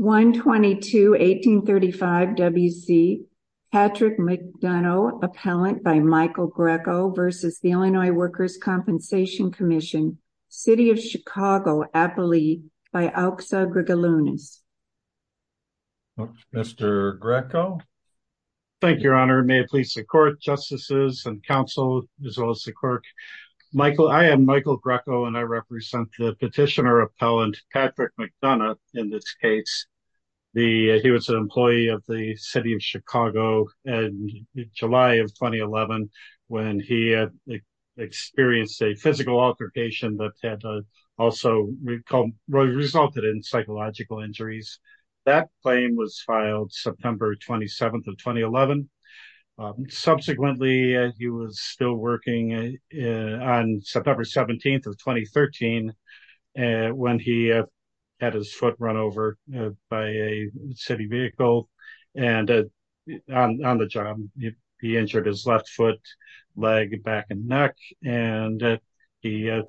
1-22-1835 W.C. Patrick McDonough, Appellant by Michael Greco v. Illinois Workers' Compensation Comm'n. City of Chicago, Appalee by Auxa Gregalunas. Mr. Greco? Thank you, Your Honor. May it please the Court, Justices, and Counsel, as well as the Clerk. I am Michael Greco, and I represent the Petitioner Appellant Patrick McDonough, in this case. He was an employee of the City of Chicago in July of 2011, when he experienced a physical altercation that had also resulted in psychological injuries. That claim was filed September 27th of 2011. Subsequently, he was still working on September 17th of 2013, when he had his foot run over by a city vehicle. On the job, he injured his left foot, leg, back, and neck. He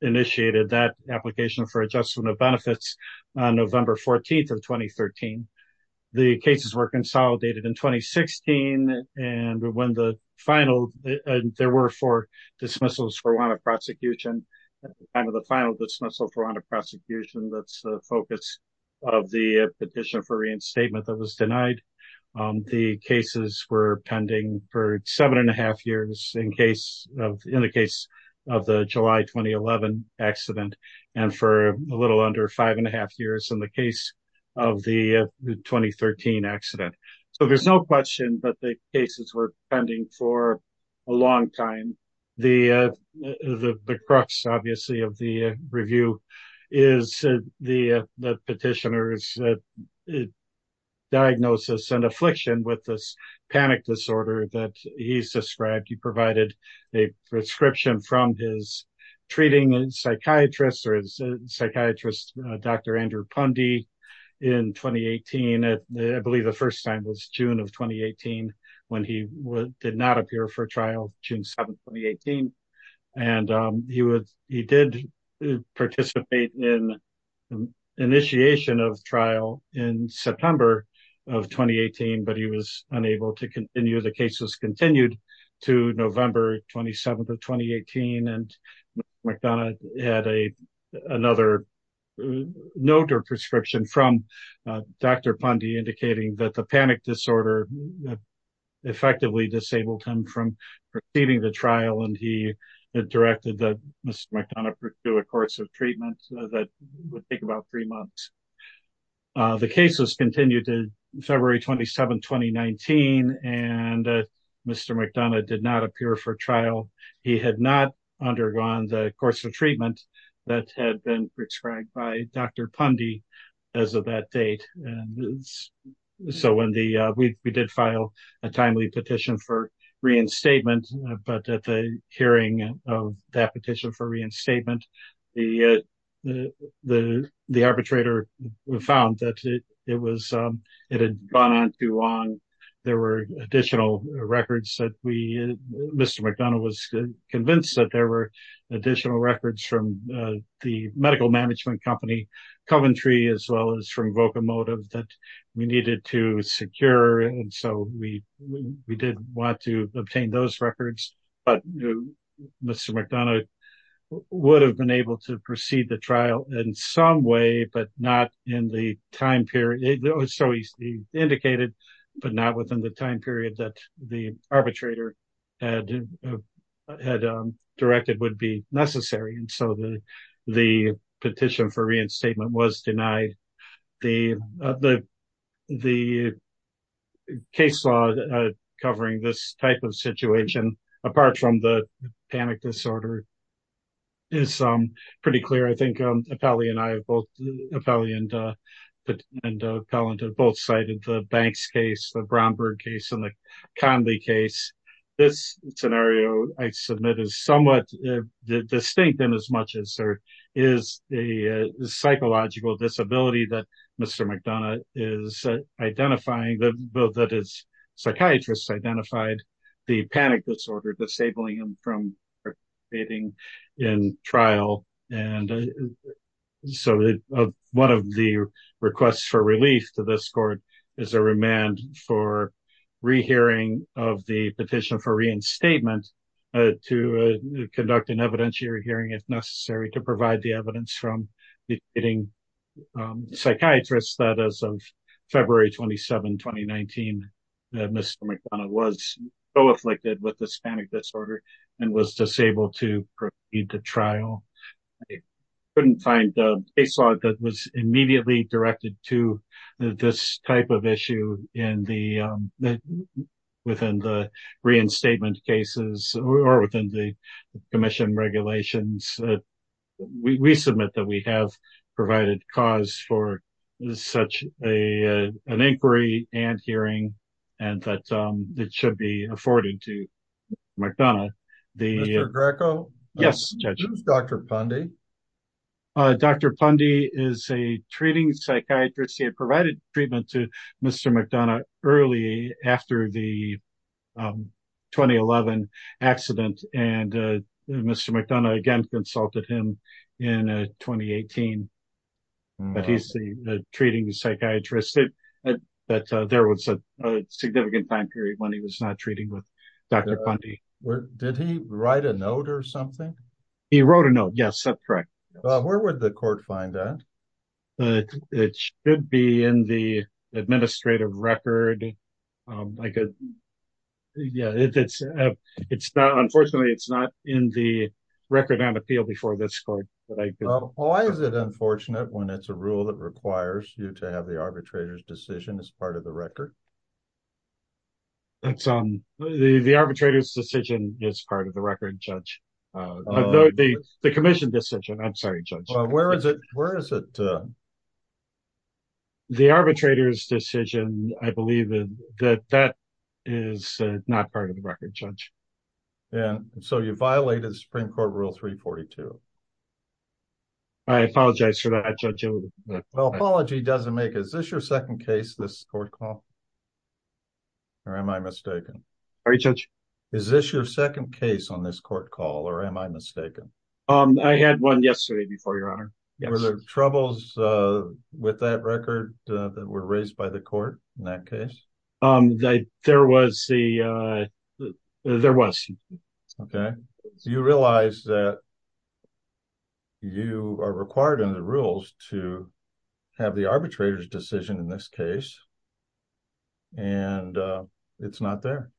initiated that application for adjustment of benefits on November 14th of 2013. The cases were consolidated in 2016, and there were four dismissals for warrant of prosecution. At the time of the final dismissal for warrant of prosecution, that's the focus of the petition for reinstatement that was denied. The cases were pending for seven and a half years in the case of the July 2011 accident, and for a little under five and a half years in the case of the 2013 accident. So, there's no question that the cases were pending for a long time. The crux, obviously, of the review is the petitioner's diagnosis and affliction with this panic disorder that he's described. He provided a prescription from his treating psychiatrist, Dr. Andrew Pundy, in 2018. I believe the first time was June of 2018, when he did not appear for trial, June 7th, 2018. He did participate in initiation of trial in September of 2018, but he was unable to continue. The cases continued to November 27th of 2018, and McDonough had another note or prescription from Dr. Pundy, indicating that the panic disorder effectively disabled him from receiving the trial, and he directed that Mr. McDonough pursue a course of treatment that would take about three months. The cases continued to February 27th, 2019, and Mr. McDonough did not appear for trial. He had not undergone the course of treatment that had been prescribed by Dr. Pundy as of that date, and so we did file a timely petition for reinstatement, but at the hearing of that petition for reinstatement, the arbitrator found that it had gone on too long. There were additional records that Mr. McDonough was convinced that there were additional records from the medical that we needed to secure, and so we did want to obtain those records, but Mr. McDonough would have been able to proceed the trial in some way, but not within the time period that the arbitrator had directed would be necessary, and so the petition for reinstatement was denied. The case law covering this type of situation, apart from the panic disorder, is pretty clear. I think Apelli and I have both cited the Banks case, the Brownberg case, and the Conley case. This scenario, I submit, is somewhat distinct in as much as there is a psychological disability that Mr. McDonough is identifying, that his psychiatrist identified the panic disorder, disabling him from participating in trial, and so one of the requests for relief to this court is a remand for rehearing of the petition for reinstatement to conduct an evidentiary hearing if necessary to provide the evidence from the psychiatrist that as of February 27, 2019, Mr. McDonough was so afflicted with the panic disorder and was disabled to proceed to trial. I couldn't find a case law that was immediately directed to this type of issue within the reinstatement cases or within the commission regulations. We submit that we have provided cause for such an inquiry and hearing, and that it should be afforded to Mr. McDonough. Mr. Greco, who's Dr. Pundy? Dr. Pundy is a treating psychiatrist. He had provided treatment to Mr. McDonough early after the 2011 accident, and Mr. McDonough again consulted him in 2018, but he's the treating psychiatrist. There was a significant time period when he was not treating with Dr. Pundy. Did he write a note or something? He wrote a note, yes, that's correct. Where would the court find that? It should be in the administrative record. Unfortunately, it's not in the record on appeal before this court. Why is it unfortunate when it's a rule that requires you to have the arbitrator's decision as part of the record? It's the arbitrator's decision is part of the record, Judge. The commission decision, I'm sorry, Judge. Where is it? The arbitrator's decision, I believe that that is not part of the record, Judge. And so you violated Supreme Court Rule 342. I apologize for that, Judge. Apology doesn't make it. Is this your second case this court called? Or am I mistaken? Sorry, Judge. Is this your second case on this court call, or am I mistaken? I had one yesterday before, Your Honor. Were there troubles with that record that were raised by the court in that case? There was. Okay. Do you realize that you are required under the rules to have the arbitrator's decision in this case, and it's not there?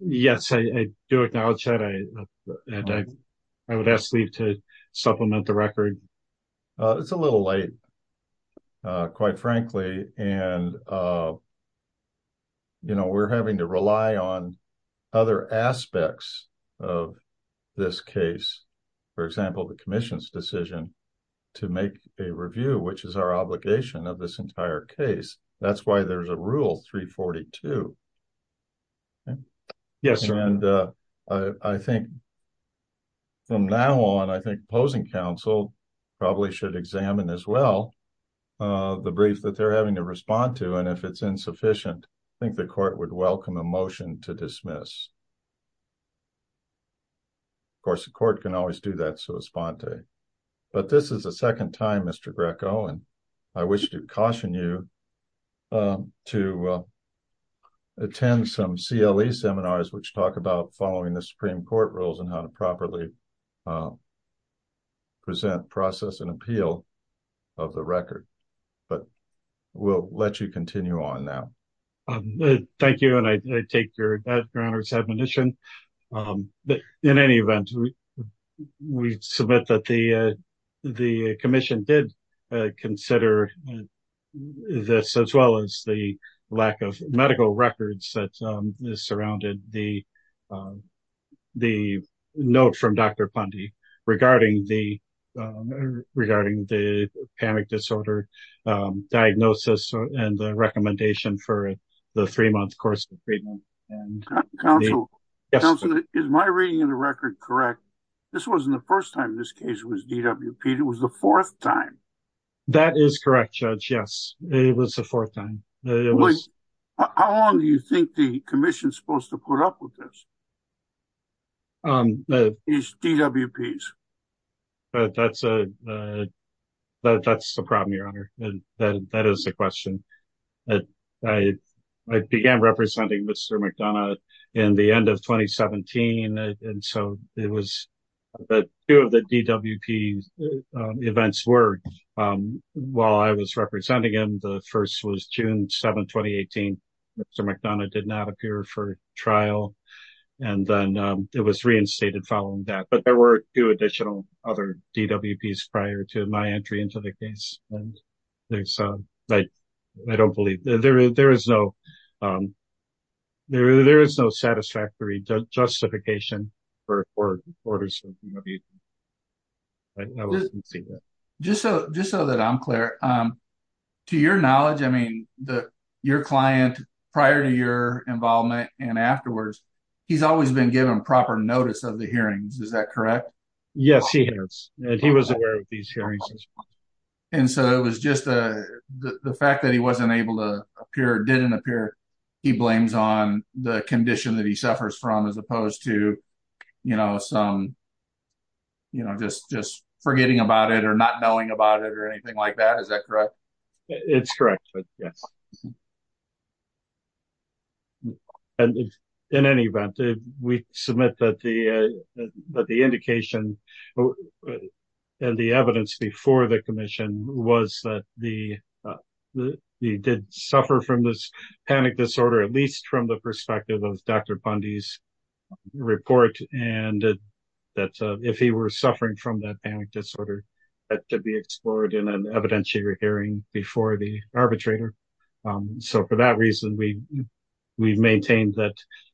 Yes, I do acknowledge that. I would ask Steve to supplement the record. It's a little late, quite frankly. And, you know, we're having to rely on other aspects of this case. Which is our obligation of this entire case. That's why there's a Rule 342. Yes. I think from now on, I think opposing counsel probably should examine as well the brief that they're having to respond to. And if it's insufficient, I think the court would welcome a motion to dismiss. Of course, the court can always do that. But this is the second time, Mr. Greco, and I wish to caution you to attend some CLE seminars which talk about following the Supreme Court rules and how to properly present, process, and appeal of the record. But we'll let you continue on now. Thank you, and I take your Honor's admonition. But in any event, we submit that the commission did consider this as well as the lack of medical records that is surrounded the note from Dr. Pundy regarding the panic disorder diagnosis and the recommendation for the three-month course of treatment. Counsel, is my reading of the record correct? This wasn't the first time this case was DWP'd. It was the fourth time. That is correct, Judge. Yes, it was the fourth time. How long do you think the commission is supposed to put up with this? These DWPs. That's a problem, Your Honor. That is the question. I began representing Mr. McDonough in the end of 2017, and so two of the DWP events were while I was representing him. The first was June 7, 2018. Mr. McDonough did not appear for trial, and then it was reinstated following that. But there were two additional other DWPs prior to my entry into the case. So, I don't believe there is no satisfactory justification for orders of DWP. Just so that I'm clear, to your knowledge, I mean, your client, prior to your involvement and afterwards, he's always been given proper notice of the hearings. Is that correct? Yes, he has. He was aware of these hearings. And so it was just the fact that he wasn't able to appear, didn't appear, he blames on the condition that he suffers from as opposed to, you know, just forgetting about it or not knowing about it or anything like that. Is that correct? It's correct, Judge, yes. In any event, we submit that the indication and the evidence before the commission was that he did suffer from this panic disorder, at least from the perspective of Dr. Bundy's report, and that if he were suffering from that panic disorder, that could be explored in an evidentiary hearing before the arbitrator. So, for that reason, we've maintained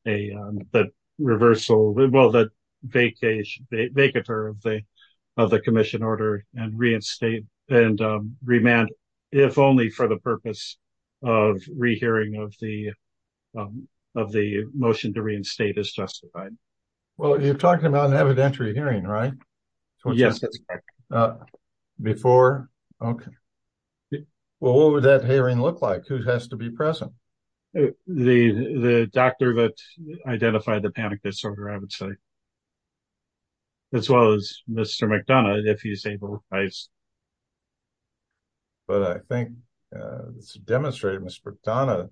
that reversal, well, that vacatur of the commission order and reinstate and remand, if only for the purpose of rehearing of the motion to reinstate is justified. Well, you're talking about an evidentiary hearing, right? Yes. Before? Okay. Well, what would that hearing look like? Who has to be present? The doctor that identified the panic disorder, I would say, as well as Mr. McDonough, if he's able. But I think it's demonstrated Mr. McDonough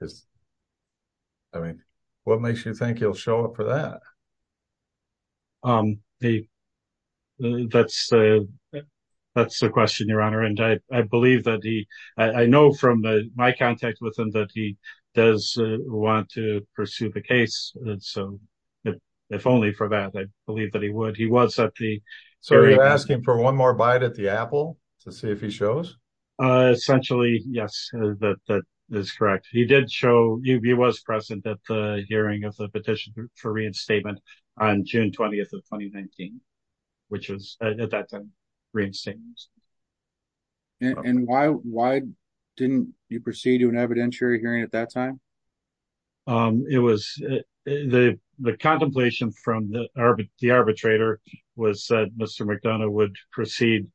is, I mean, what makes you think he'll show up for that? That's a question, Your Honor, and I believe that he, I know from my contact with him that he does want to pursue the case, and so, if only for that, I believe that he would. He was at the hearing. So, you're asking for one more bite at the apple to see if he shows? Essentially, yes, that is correct. He did show, he was present at the hearing of the petition for reinstatement on June 20th of 2019, which was, at that time, reinstated. And why didn't you proceed to an evidentiary hearing at that time? It was, the contemplation from the arbitrator was that Mr. McDonough would proceed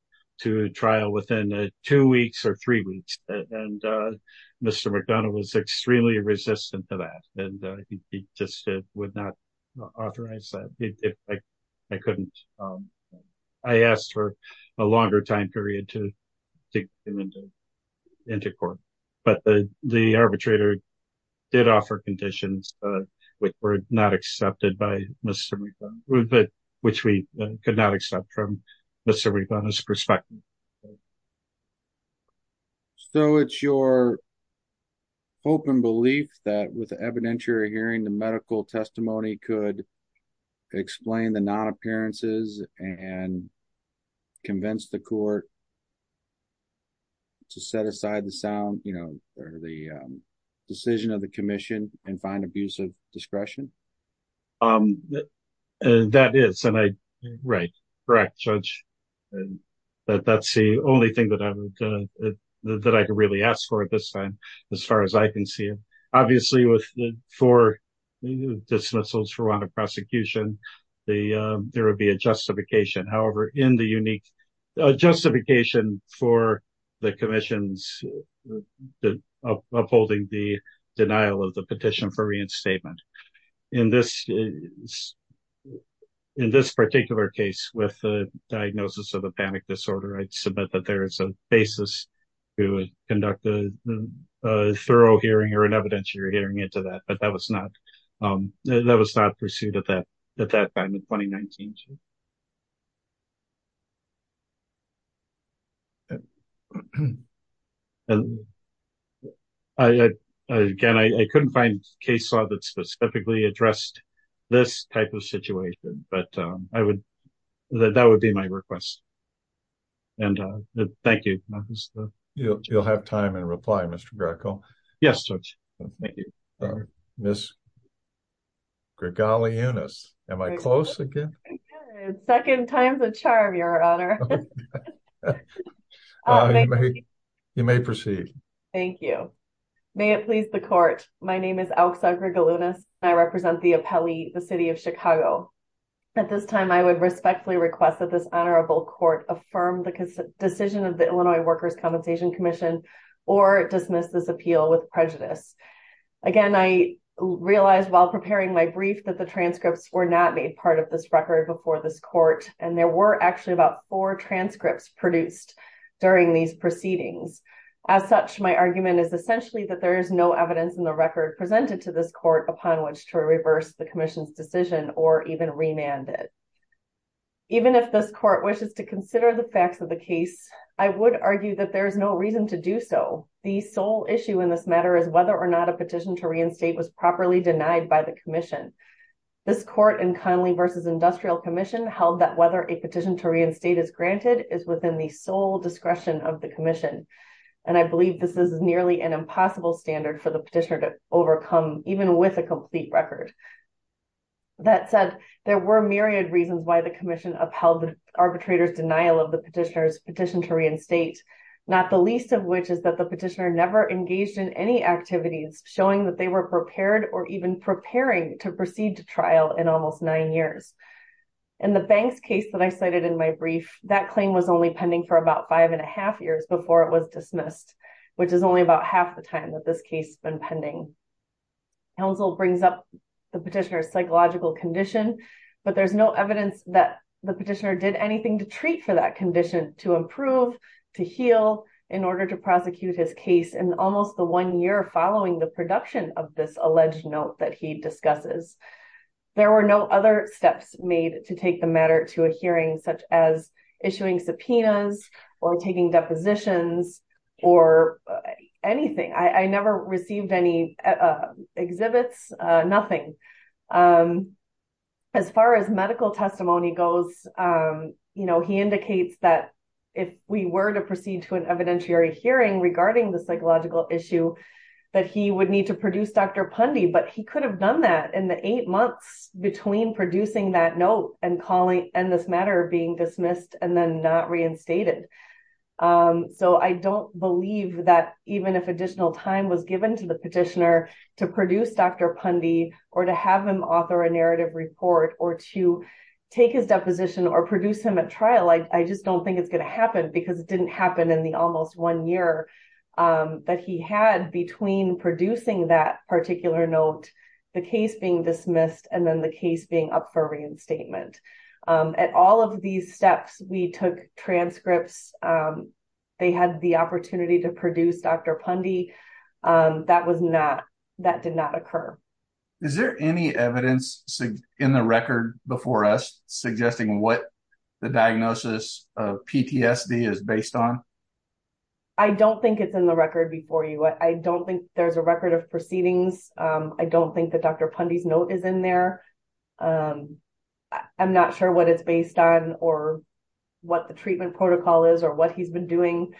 to trial within two weeks or three weeks, and Mr. McDonough was extremely resistant to that, and he just would not authorize that. I couldn't, I asked for a longer time period to get him into court, but the arbitrator did offer conditions which were not accepted by Mr. McDonough, which we could not accept from Mr. McDonough's perspective. So, it's your hope and belief that with the evidentiary hearing, the medical testimony could explain the non-appearances and convince the court to set aside the sound, or the decision of the commission, and find abuse of discretion? That is, and I, right, correct, Judge. That's the only thing that I would, that I could really ask for at this time, as far as I can see. Obviously, with the four dismissals for want of prosecution, there would be a justification. However, in the unique justification for the commission's upholding the denial of the petition for reinstatement. In this, in this particular case, with the diagnosis of the panic disorder, I'd submit that there is a basis to conduct a thorough hearing or an evidentiary hearing into that, but that was not, that was not pursued at that, at that time in 2019, too. I, again, I couldn't find a case law that specifically addressed this type of situation, but I would, that would be my request. And thank you. You'll have time in reply, Mr. Greco. Yes, Judge. Thank you. All right. Ms. Gregaliunas, am I close again? Second time's a charm, Your Honor. You may proceed. Thank you. May it please the court. My name is Alexa Gregaliunas, and I represent the appellee, the city of Chicago. At this time, I would respectfully request that this honorable court affirm the decision of the Illinois Workers' Compensation Commission or dismiss this appeal with prejudice. Again, I realized while preparing my brief that the transcripts were not made part of this record before this court, and there were actually about four transcripts produced during these proceedings. As such, my argument is essentially that there is no evidence in the record presented to this court upon which to reverse the commission's decision or even remand it. Even if this court wishes to consider the facts of the case, I would argue that there is no reason to do so. The sole issue in this matter is whether or not a petition to reinstate was properly denied by the commission. This court in Conley v. Industrial Commission held that whether a petition to reinstate is granted is within the sole discretion of the commission, and I believe this is nearly an impossible standard for the petitioner to overcome, even with a complete record. That said, there were myriad reasons why the commission upheld the arbitrator's denial of the petitioner's petition to reinstate, not the least of which is that the petitioner never engaged in any activities showing that they were prepared or even preparing to proceed to trial in almost nine years. In the Banks case that I cited in my brief, that claim was only pending for about five and a half years before it was dismissed, which is only about half the time that this case has been pending. Counsel brings up the petitioner's psychological condition, but there's no evidence that the petitioner did anything to treat for that condition, to improve, to heal, in order to prosecute his case in almost the one year following the production of this alleged note that he discusses. There were no other steps made to take the matter to a hearing, such as issuing subpoenas or taking depositions or anything. I never received any exhibits, nothing. As far as medical testimony goes, he indicates that if we were to proceed to an evidentiary hearing regarding the psychological issue, that he would need to produce Dr. Pundy, but he could have done that in the eight months between producing that note and this matter being dismissed and then not reinstated. I don't believe that even if additional time was given to the petitioner to produce Dr. Pundy or to have him author a narrative report or to take his deposition or produce him at trial, I just don't think it's going to happen because it didn't happen in the almost one year that he had between producing that particular note, the case being dismissed, and then the case being up for reinstatement. At all of these steps, we took transcripts, they had the opportunity to produce Dr. Pundy, that did not occur. Is there any evidence in the record before us suggesting what the diagnosis of PTSD is based on? I don't think it's in the record before you. I don't think there's a record of proceedings. I don't think that Dr. Pundy's note is in there. I'm not sure what it's based on or what the treatment protocol is or what he's been doing.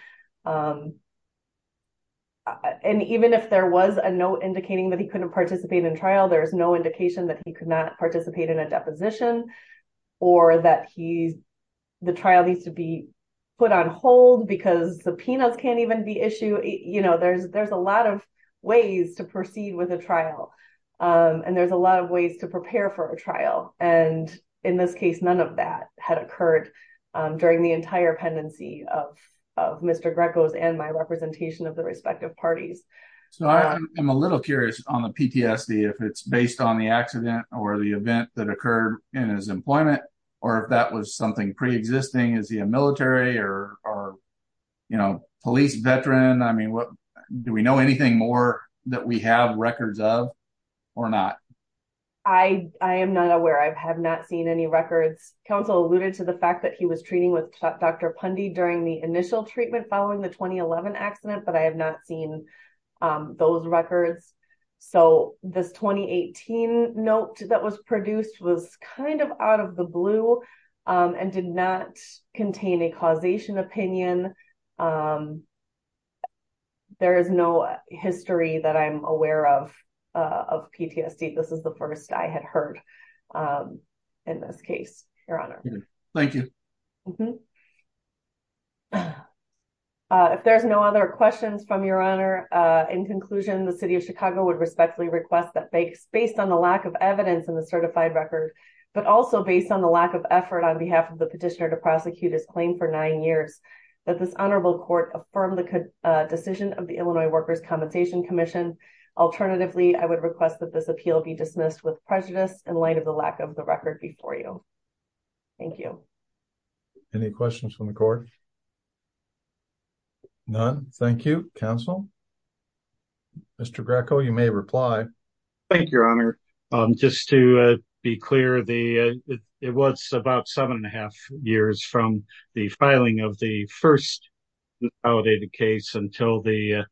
And even if there was a note indicating that he couldn't participate in trial, there's no indication that he could not participate in a deposition or that the trial needs to be put on hold because subpoenas can't even be issued. There's a lot of ways to proceed with a trial, and there's a lot of ways to prepare for a trial. And in this case, none of that had occurred during the entire pendency of Mr. Greco's and my representation of the respective parties. So, I am a little curious on the PTSD, if it's based on the accident or the event that or, you know, police veteran. I mean, do we know anything more that we have records of or not? I am not aware. I have not seen any records. Counsel alluded to the fact that he was treating with Dr. Pundy during the initial treatment following the 2011 accident, but I have not seen those records. So, this 2018 note that was produced was kind of out of the blue and did not contain a causation opinion. There is no history that I'm aware of, of PTSD. This is the first I had heard in this case, Your Honor. Thank you. If there's no other questions from Your Honor, in conclusion, the City of Chicago would respectfully request that based on the lack of evidence in the certified record, but also based on the lack of effort on behalf of the petitioner to prosecute his claim for nine years, that this honorable court affirm the decision of the Illinois Workers' Compensation Commission. Alternatively, I would request that this appeal be dismissed with prejudice in light of the lack of the record before you. Thank you. Any questions from the court? None. Thank you. Counsel? Mr. Greco, you may reply. Thank you, Your Honor. Just to be clear, it was about seven and a half years from the filing of the first validated case until the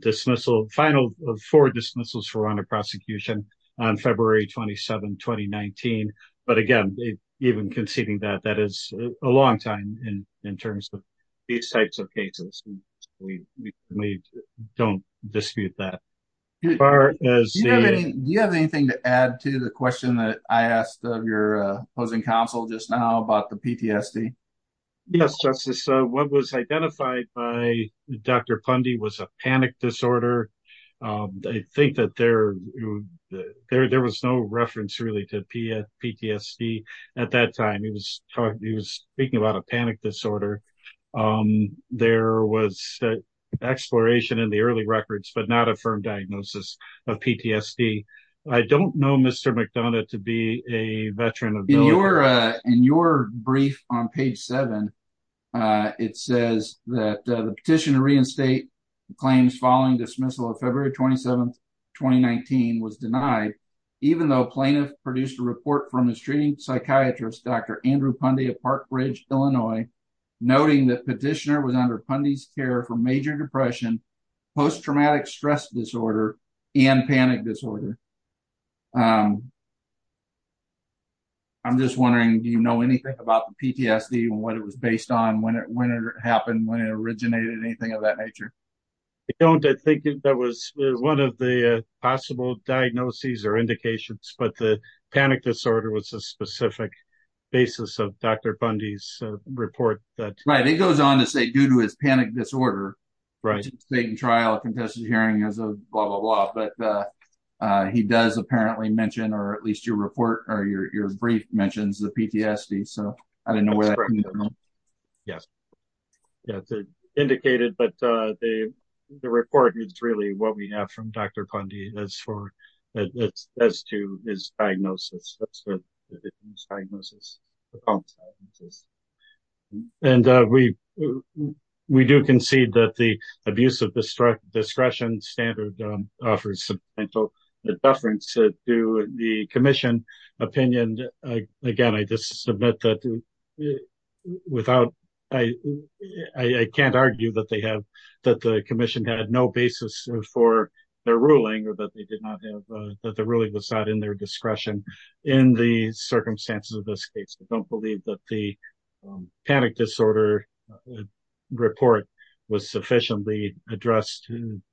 dismissal, final four dismissals for honor prosecution on February 27, 2019. But again, even conceding that, that is a long time in terms of these types of cases. We don't dispute that. Do you have anything to add to the question that I asked of your opposing counsel just now about the PTSD? Yes, Justice. What was identified by Dr. Pundy was a panic disorder. I think that there was no reference really to PTSD at that time. He was speaking about a panic disorder. Um, there was exploration in the early records, but not a firm diagnosis of PTSD. I don't know Mr. McDonough to be a veteran. In your brief on page seven, it says that the petition to reinstate the claims following dismissal of February 27, 2019 was denied, even though plaintiff produced a report from psychiatrist, Dr. Andrew Pundy of Park Ridge, Illinois, noting that petitioner was under Pundy's care for major depression, post-traumatic stress disorder, and panic disorder. Um, I'm just wondering, do you know anything about the PTSD and what it was based on when it, when it happened, when it originated, anything of that nature? I don't think that was one of the possible diagnoses or indications, but the panic disorder was a specific basis of Dr. Pundy's report that... Right. It goes on to say due to his panic disorder, trial, contested hearing, blah, blah, blah. But, uh, uh, he does apparently mention, or at least your report or your brief mentions the PTSD. So I didn't know where that came from. Yes. Yeah, it's indicated, but, uh, the, the report is really what we have from Dr. Pundy as far as to his diagnosis. And, uh, we, we do concede that the abuse of discretion standard, um, offers substantial deference to the commission opinion. Again, I just submit that without, I, I can't argue that they have, that the commission had no basis for their ruling or that they did not have, uh, that the ruling was not their discretion in the circumstances of this case. I don't believe that the panic disorder report was sufficiently addressed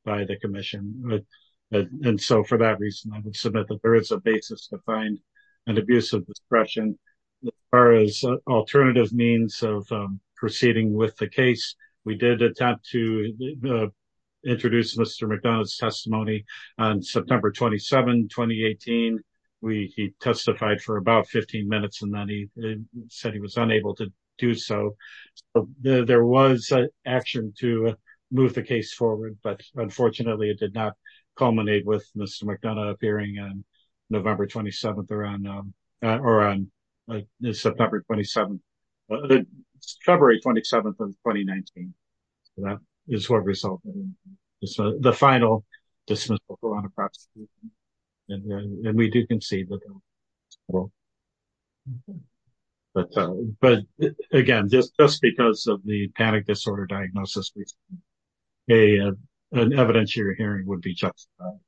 by the commission. And so for that reason, I would submit that there is a basis to find an abuse of discretion. As far as alternative means of, um, proceeding with the case, we did attempt to, uh, introduce Mr. McDonald's testimony on September 27, 2018. We, he testified for about 15 minutes and then he said he was unable to do so. There was action to move the case forward, but unfortunately it did not culminate with Mr. McDonough appearing on November 27th or on, um, uh, or on September 27th, February 27th of 2019. So that is what resulted in the final dismissal on the prosecution. And then we do concede that, well, but, uh, but again, just, just because of the panic disorder diagnosis, a, uh, an evidentiary hearing would be justified.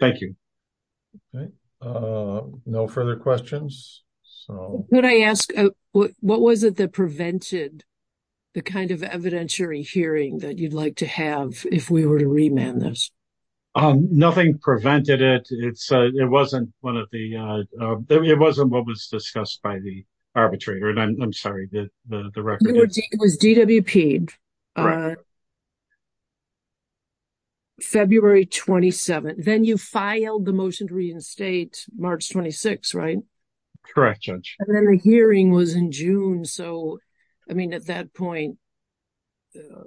Thank you. Okay. Uh, no further questions. Could I ask, what was it that prevented the kind of evidentiary hearing that you'd like to have if we were to remand this? Nothing prevented it. It's, uh, it wasn't one of the, uh, it wasn't what was discussed by the arbitrator. And I'm sorry that the record was DWP, uh, February 27th. Then you filed the motion to reinstate March 26, right? Correct, Judge. And then the hearing was in June. So, I mean, at that point, uh,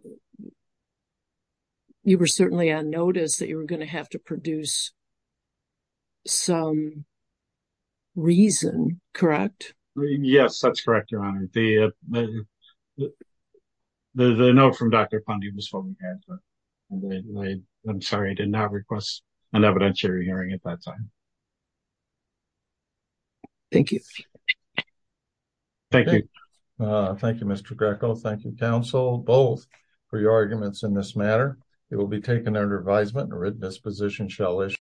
you were certainly on notice that you were going to have to produce some reason, correct? Yes, that's correct, Your Honor. The, uh, the, the note from Dr. Fundy was what we had, but I'm sorry, I did not request an evidentiary hearing at that time. Thank you. Thank you. Uh, thank you, Mr. Greco. Thank you, counsel, both for your arguments in this matter. It will be taken under advisement and written disposition shall issue.